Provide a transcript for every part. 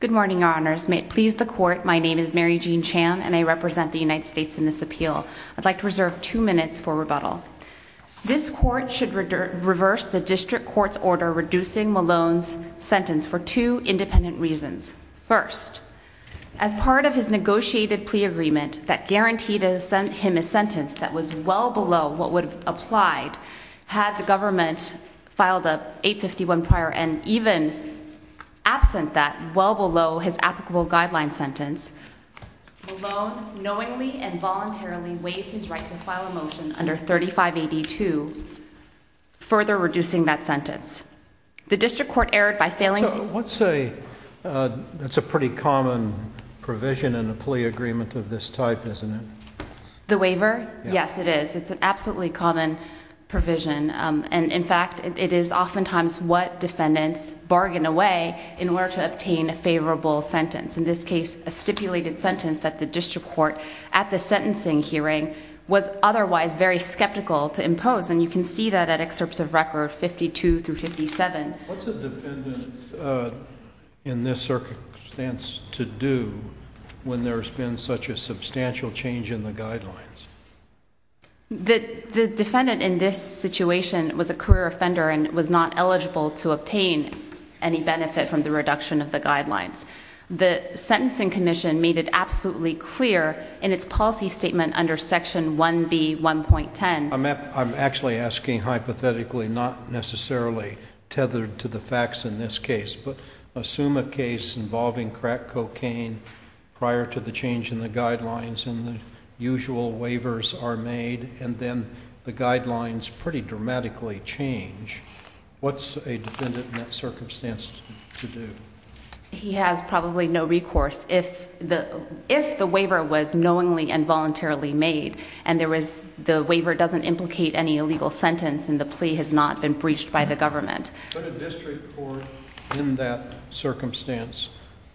Good morning, Your Honors. May it please the Court, my name is Mary Jean Chan and I represent the United States in this appeal. I'd like to reserve two minutes for rebuttal. This Court should reverse the District Court's order reducing Malone's sentence for two independent reasons. First, as part of his negotiated plea agreement that guaranteed him a sentence that was well below what would have applied had the government filed a 851 prior and even absent that well below his applicable guideline sentence, Malone knowingly and voluntarily waived his right to file a motion under 3582 further reducing that sentence. The District Court erred by failing to... So let's say that's a pretty common provision in a plea agreement of this type, isn't it? The waiver? Yes, it is. It's an absolutely common provision. And in fact, it is oftentimes what defendants bargain away in order to obtain a favorable sentence. In this case, a stipulated sentence that the District Court at the sentencing hearing was otherwise very skeptical to impose and you can see that at excerpts of record 52 through 57. What's a defendant in this circumstance to do when there's been such a substantial change in the guidelines? The defendant in this situation was a career offender and was not eligible to obtain any benefit from the reduction of the guidelines. The Sentencing Commission made it absolutely clear in its policy statement under Section 1B.1.10... I'm actually asking hypothetically, not necessarily tethered to the facts in this case, but assume a case involving crack cocaine prior to the change in the guidelines and the usual waivers are made and then the guidelines pretty dramatically change. What's a defendant in that circumstance to do? He has probably no recourse. If the waiver was knowingly and voluntarily made and the waiver doesn't implicate any illegal sentence and the plea has not been breached by the government. Could a district court in that circumstance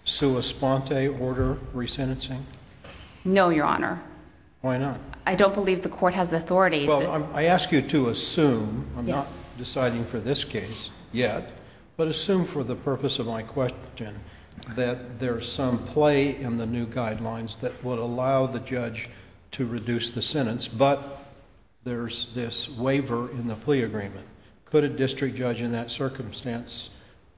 sue a sponte order resentencing? No, Your Honor. Why not? I don't believe the court has the authority. Well, I ask you to assume, I'm not deciding for this case yet, but assume for the purpose of my question that there's some play in the new guidelines that would allow the judge to reduce the sentence, but there's this waiver in the plea agreement. Could a district judge in that circumstance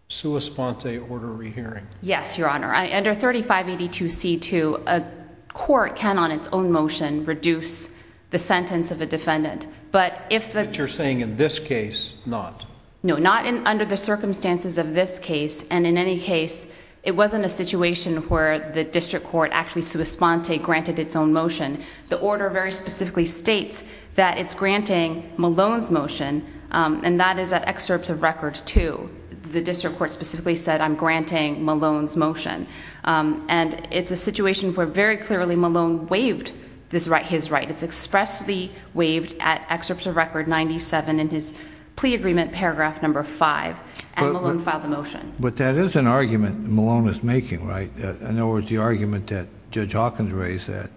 sue a sponte order rehearing? Yes, Your Honor. Under 3582C2, a court can on its own motion reduce the sentence of a defendant, but if the... But you're saying in this case, not? No, not under the circumstances of this case. And in any case, it wasn't a situation where the district court actually sued a sponte, granted its own motion. The order very specifically states that it's granting Malone's motion, and that is at excerpts of record two. The district court specifically said, I'm granting Malone's motion. And it's a situation where very clearly Malone waived his right. It's expressly waived at excerpts of record 97 in his plea agreement, paragraph number five. And Malone filed the motion. But that is an argument Malone is making, right? In other words, the argument that Judge Hawkins raised that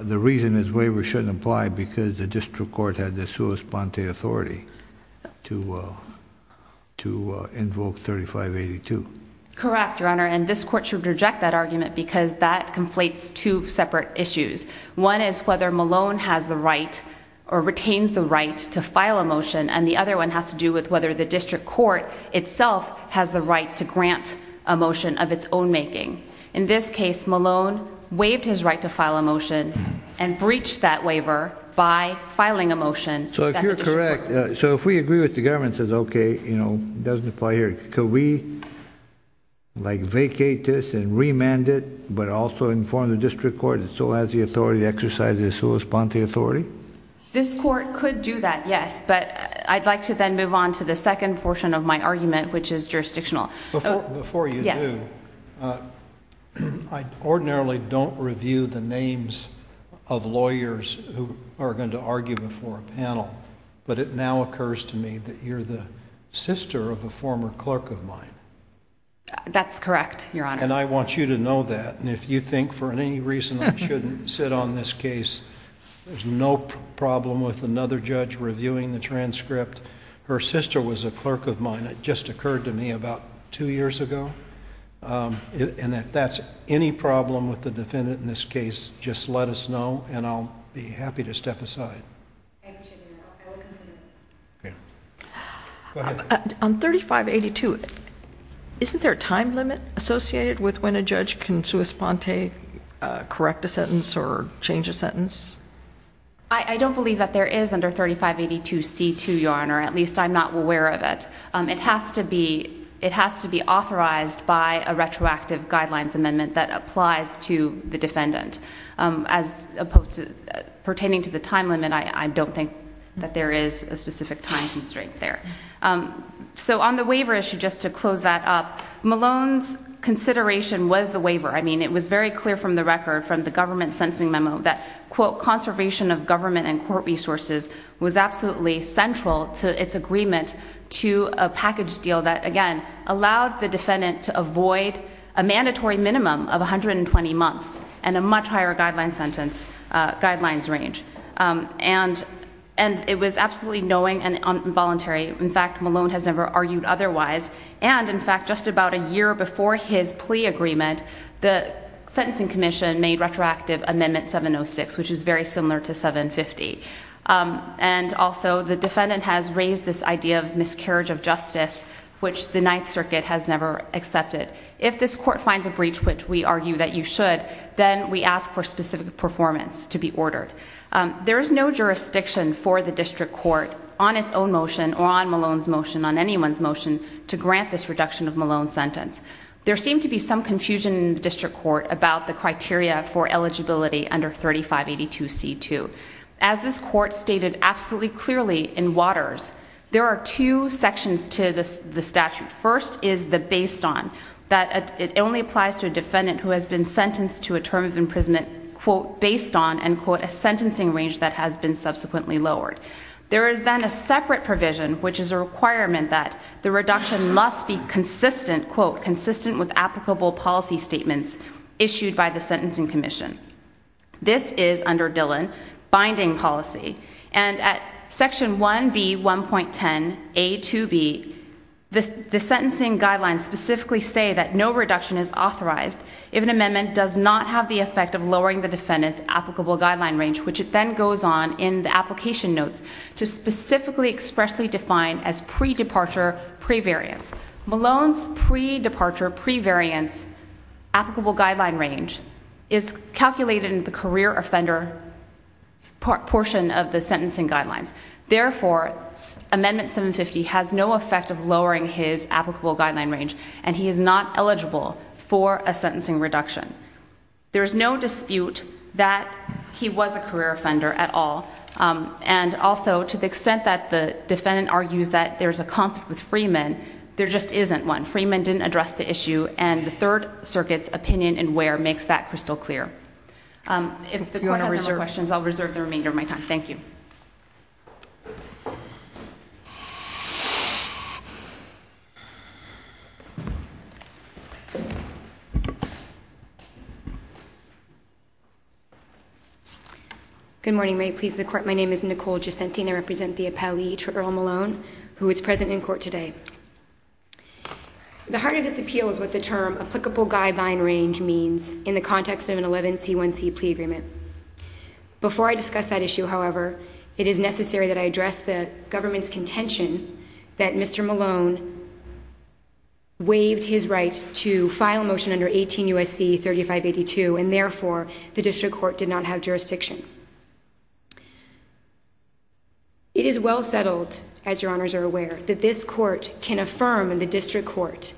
the reason his waiver shouldn't apply because the district court had the sua sponte authority to invoke 3582. Correct, Your Honor. And this court should reject that argument because that conflates two separate issues. One is whether Malone has the right or retains the right to file a motion. And the other one has to do with whether the district court itself has the right to grant a motion of its own making. In this case, Malone waived his right to file a motion and breached that waiver by filing a motion. So if you're correct, so if we agree with the government, says, okay, you know, doesn't apply here. Could we, like, vacate this and remand it, but also inform the district court that still has the authority to exercise the sua sponte authority? This court could do that, yes. But I'd like to then move on to the second portion of my argument, which is jurisdictional. Before you do, I ordinarily don't review the names of lawyers who are going to argue before a panel. But it now occurs to me that you're the sister of a former clerk of mine. That's correct, Your Honor. And I want you to know that. And if you think for any reason I shouldn't sit on this case, there's no problem with another judge reviewing the transcript. Her sister was a clerk of mine. It just occurred to me about two years ago. And if that's any problem with the defendant in this case, just let us know, and I'll be happy to step aside. Thank you, Chief. You're welcome. Go ahead. On 3582, isn't there a time limit associated with when a judge can sua sponte, correct a sentence, or change a sentence? I don't believe that there is under 3582C2, Your Honor. At least I'm not aware of it. It has to be authorized by a retroactive guidelines amendment that applies to the defendant. As opposed to pertaining to the time limit, I don't think that there is a specific time constraint there. So on the waiver issue, just to close that up, Malone's consideration was the waiver. I mean, it was very clear from the record from the government sentencing memo that, quote, conservation of government and court resources was absolutely central to its agreement to a package deal that, again, allowed the defendant to avoid a mandatory minimum of 120 months and a much higher guidelines range. And it was absolutely knowing and involuntary. In fact, Malone has never argued otherwise. And, in fact, just about a year before his plea agreement, the Sentencing Commission made retroactive Amendment 706, which is very similar to 750. And also the defendant has raised this idea of miscarriage of justice, which the Ninth Circuit has never accepted. If this court finds a breach, which we argue that you should, then we ask for specific performance to be ordered. There is no jurisdiction for the district court on its own motion or on Malone's motion, on anyone's motion, to grant this reduction of Malone's sentence. There seemed to be some confusion in the district court about the criteria for eligibility under 3582C2. As this court stated absolutely clearly in Waters, there are two sections to the statute. First is the based on, that it only applies to a defendant who has been sentenced to a term of imprisonment, quote, based on, end quote, a sentencing range that has been subsequently lowered. There is then a separate provision, which is a requirement that the reduction must be consistent, quote, consistent with applicable policy statements issued by the Sentencing Commission. This is, under Dillon, binding policy. And at section 1B1.10A2B, the sentencing guidelines specifically say that no reduction is authorized if an amendment does not have the effect of lowering the defendant's applicable guideline range, which then goes on in the application notes to specifically expressly define as pre-departure, pre-variance. Malone's pre-departure, pre-variance applicable guideline range is calculated in the career offender portion of the sentencing guidelines. Therefore, Amendment 750 has no effect of lowering his applicable guideline range, and he is not eligible for a sentencing reduction. There is no dispute that he was a career offender at all. And also, to the extent that the defendant argues that there's a conflict with Freeman, there just isn't one. Freeman didn't address the issue, and the Third Circuit's opinion in Ware makes that crystal clear. If the court has any questions, I'll reserve the remainder of my time. Thank you. Good morning, may it please the court. My name is Nicole Giacentini. I represent the appellee, Earl Malone, who is present in court today. The heart of this appeal is what the term applicable guideline range means in the context of an 11C1C plea agreement. Before I discuss that issue, however, it is necessary that I address the government's contention that Mr. Malone waived his right to file a motion under 18 U.S.C. 3582, and therefore the district court did not have jurisdiction. It is well settled, as your honors are aware, that this court can affirm the district court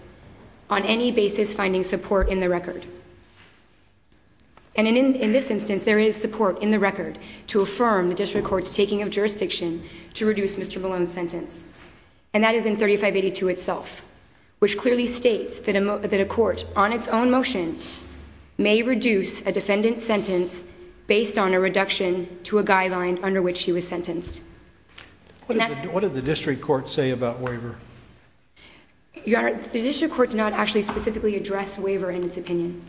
on any basis finding support in the record. And in this instance, there is support in the record to affirm the district court's taking of jurisdiction to reduce Mr. Malone's sentence, and that is in 3582 itself, which clearly states that a court on its own motion may reduce a defendant's sentence based on a reduction to a guideline under which he was sentenced. What did the district court say about waiver? Your honor, the district court did not actually specifically address waiver in its opinion.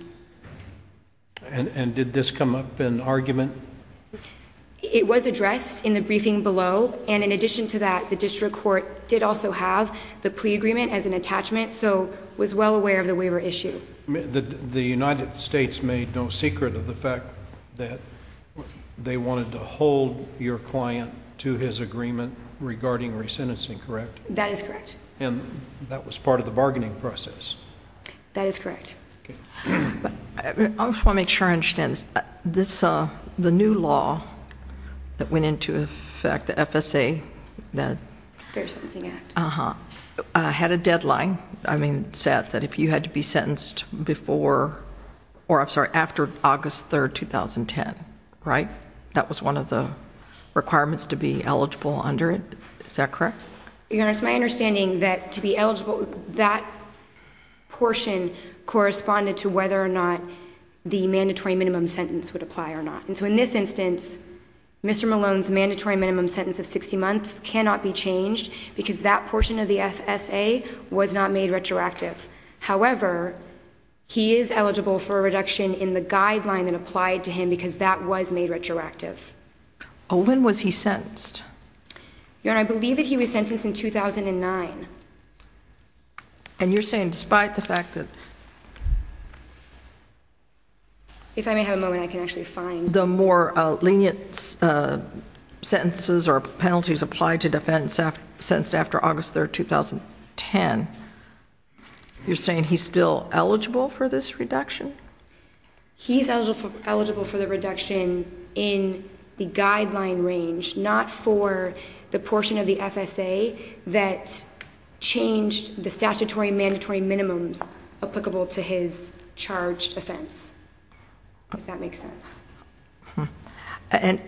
And did this come up in argument? It was addressed in the briefing below, and in addition to that, the district court did also have the plea agreement as an attachment, so was well aware of the waiver issue. The United States made no secret of the fact that they wanted to hold your client to his agreement regarding resentencing, correct? That is correct. And that was part of the bargaining process? That is correct. I just want to make sure I understand this. The new law that went into effect, the FSA, the Fair Sentencing Act, had a deadline set that if you had to be sentenced before, or I'm sorry, after August 3, 2010, right? That was one of the requirements to be eligible under it. Is that correct? Your honor, it's my understanding that to be eligible, that portion corresponded to whether or not the mandatory minimum sentence would apply or not. And so in this instance, Mr. Malone's mandatory minimum sentence of 60 months cannot be changed because that portion of the FSA was not made retroactive. However, he is eligible for a reduction in the guideline that applied to him because that was made retroactive. Olin, was he sentenced? Your honor, I believe that he was sentenced in 2009. And you're saying despite the fact that... If I may have a moment, I can actually find... The more lenient sentences or penalties applied to defend sentenced after August 3, 2010, you're saying he's still eligible for this reduction? He's eligible for the reduction in the guideline range, not for the portion of the FSA that changed the statutory mandatory minimums applicable to his charged offense, if that makes sense. And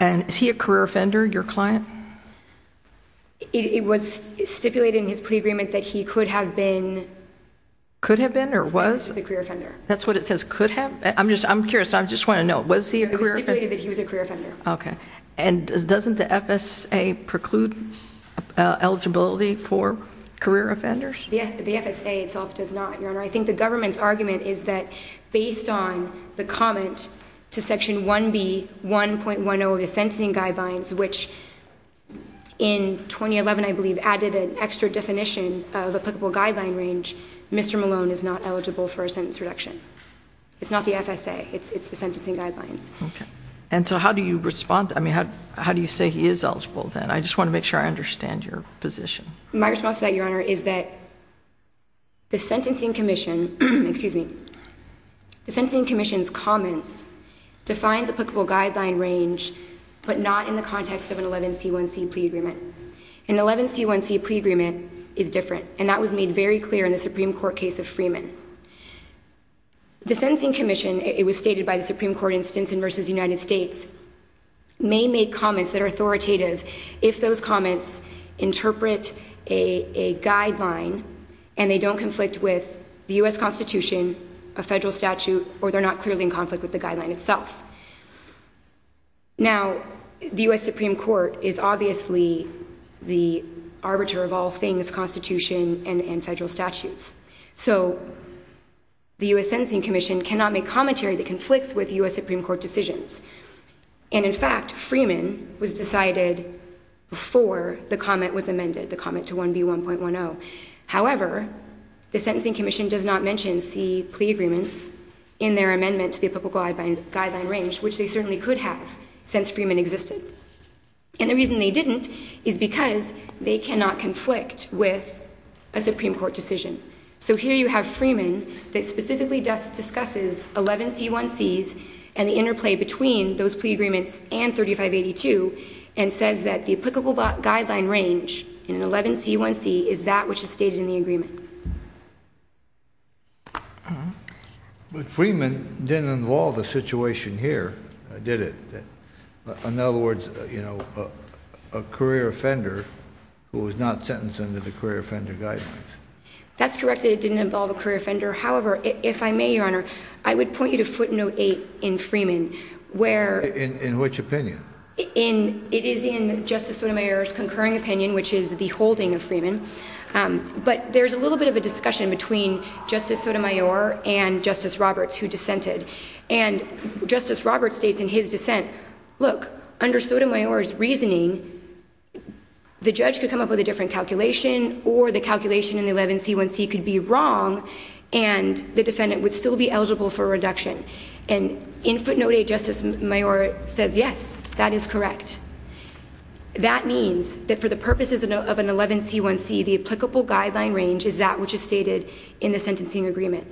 is he a career offender, your client? It was stipulated in his plea agreement that he could have been... Could have been or was? He was a career offender. That's what it says, could have? I'm curious. I just want to know. Was he a career offender? It was stipulated that he was a career offender. Okay. And doesn't the FSA preclude eligibility for career offenders? The FSA itself does not, your honor. I think the government's argument is that based on the comment to Section 1B, 1.10 of the sentencing guidelines, which in 2011, I believe, added an extra definition of applicable guideline range, Mr. Malone is not eligible for a sentence reduction. It's not the FSA. It's the sentencing guidelines. Okay. And so how do you respond? I mean, how do you say he is eligible then? I just want to make sure I understand your position. My response to that, your honor, is that the Sentencing Commission... Excuse me. The Sentencing Commission's comments defines applicable guideline range, but not in the context of an 11C1C plea agreement. An 11C1C plea agreement is different, and that was made very clear in the Supreme Court case of Freeman. The Sentencing Commission, it was stated by the Supreme Court in Stinson v. United States, may make comments that are authoritative if those comments interpret a guideline and they don't conflict with the U.S. Constitution, a federal statute, or they're not clearly in conflict with the guideline itself. Now, the U.S. Supreme Court is obviously the arbiter of all things Constitution and federal statutes. So, the U.S. Sentencing Commission cannot make commentary that conflicts with U.S. Supreme Court decisions. And, in fact, Freeman was decided before the comment was amended, the comment to 1B1.10. However, the Sentencing Commission does not mention C plea agreements in their amendment to the applicable guideline range, which they certainly could have since Freeman existed. And the reason they didn't is because they cannot conflict with a Supreme Court decision. So, here you have Freeman that specifically discusses 11C1Cs and the interplay between those plea agreements and 3582 and says that the applicable guideline range in an 11C1C is that which is stated in the agreement. But Freeman didn't involve the situation here, did it? In other words, you know, a career offender who was not sentenced under the career offender guidelines. That's correct. It didn't involve a career offender. However, if I may, Your Honor, I would point you to footnote 8 in Freeman, where... In which opinion? It is in Justice Sotomayor's concurring opinion, which is the holding of Freeman. But there's a little bit of a discussion between Justice Sotomayor and Justice Roberts, who dissented. And Justice Roberts states in his dissent, look, under Sotomayor's reasoning, the judge could come up with a different calculation or the calculation in the 11C1C could be wrong and the defendant would still be eligible for a reduction. And in footnote 8, Justice Sotomayor says yes, that is correct. That means that for the purposes of an 11C1C, the applicable guideline range is that which is stated in the sentencing agreement.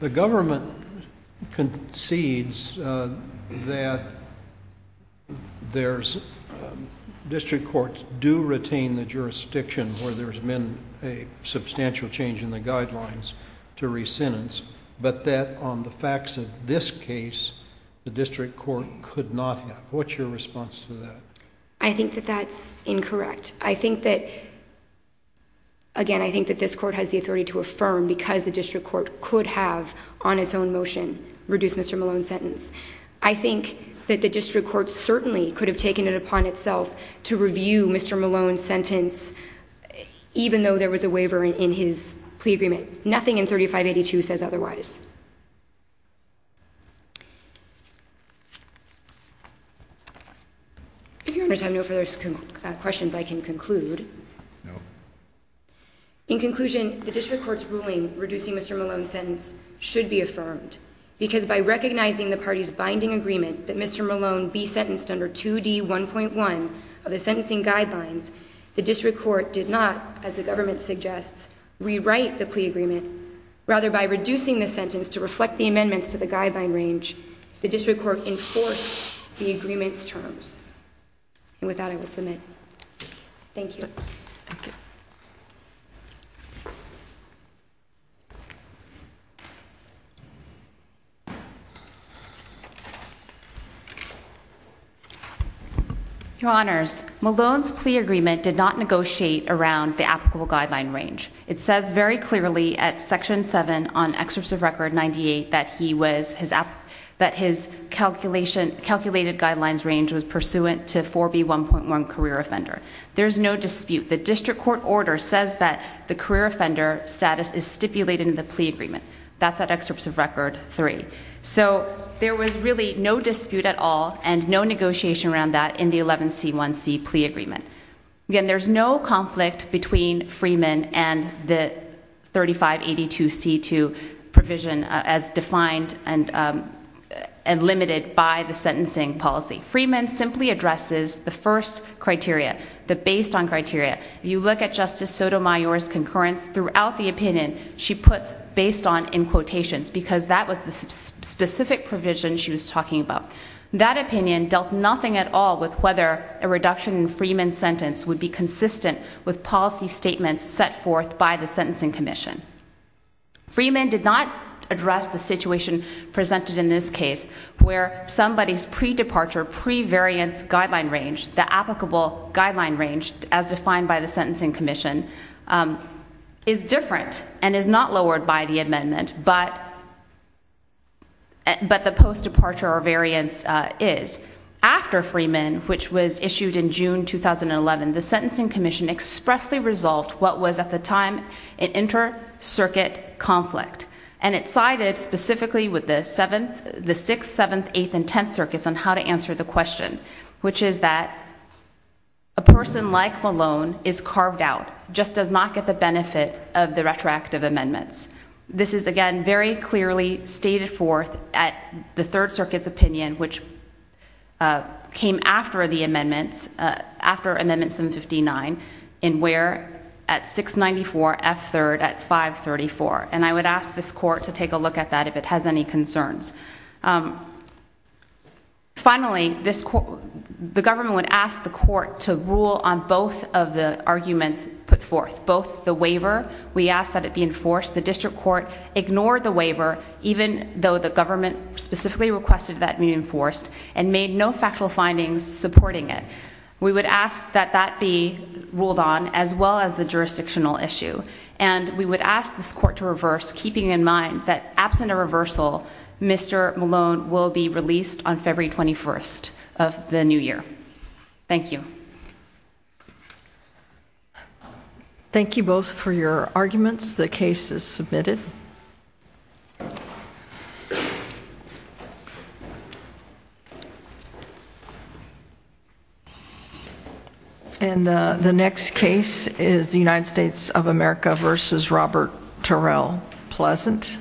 The government concedes that there's... District courts do retain the jurisdiction where there's been a substantial change in the guidelines to re-sentence, but that on the facts of this case, the district court could not have. What's your response to that? I think that that's incorrect. I think that, again, I think that this court has the authority to affirm because the district court could have on its own motion reduced Mr. Malone's sentence. I think that the district court certainly could have taken it upon itself to review Mr. Malone's sentence even though there was a waiver in his plea agreement. Nothing in 3582 says otherwise. If there's no further questions, I can conclude. No. In conclusion, the district court's ruling reducing Mr. Malone's sentence should be affirmed because by recognizing the party's binding agreement that Mr. Malone be sentenced under 2D1.1 of the sentencing guidelines, the district court did not, as the government suggests, rewrite the plea agreement. Rather, by reducing the sentence to reflect the amendments to the guideline range, the district court enforced the agreement's terms. And with that, I will submit. Thank you. Your Honors, Malone's plea agreement did not negotiate around the applicable guideline range. It says very clearly at Section 7 on Excerpt of Record 98 that his calculated guidelines range was pursuant to 4B1.1 career offender. There's no dispute. The district court order says that the career offender status is stipulated in the plea agreement. That's at Excerpt of Record 3. So there was really no dispute at all and no negotiation around that in the 11C1C plea agreement. Again, there's no conflict between Freeman and the 3582C2 provision as defined and limited by the sentencing policy. Freeman simply addresses the first criteria, the based-on criteria. If you look at Justice Sotomayor's concurrence throughout the opinion, she puts based-on in quotations because that was the specific provision she was talking about. That opinion dealt nothing at all with whether a reduction in Freeman's sentence would be consistent with policy statements set forth by the Sentencing Commission. Freeman did not address the situation presented in this case where somebody's pre-departure, pre-variance guideline range, the applicable guideline range, as defined by the Sentencing Commission, is different and is not lowered by the amendment, but the post-departure or variance is. After Freeman, which was issued in June 2011, the Sentencing Commission expressly resolved what was at the time an inter-circuit conflict, and it sided specifically with the 6th, 7th, 8th, and 10th Circuits on how to answer the question, which is that a person like Malone is carved out, just does not get the benefit of the retroactive amendments. This is, again, very clearly stated forth at the Third Circuit's opinion, which came after the amendments, after Amendment 759, in where at 694, F3rd at 534. And I would ask this court to take a look at that if it has any concerns. Finally, the government would ask the court to rule on both of the arguments put forth, both the waiver we asked that it be enforced, the district court ignored the waiver, even though the government specifically requested that it be enforced and made no factual findings supporting it. We would ask that that be ruled on, as well as the jurisdictional issue. And we would ask this court to reverse, keeping in mind that absent a reversal, Mr. Malone will be released on February 21st of the new year. Thank you. Thank you both for your arguments. The case is submitted. And the next case is the United States of America versus Robert Terrell, Pleasant.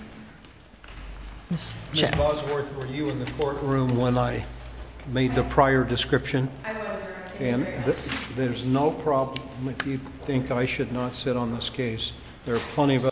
Ms. Bosworth, were you in the courtroom when I made the prior description? I was, Your Honor. There's no problem if you think I should not sit on this case. There are plenty of other cases.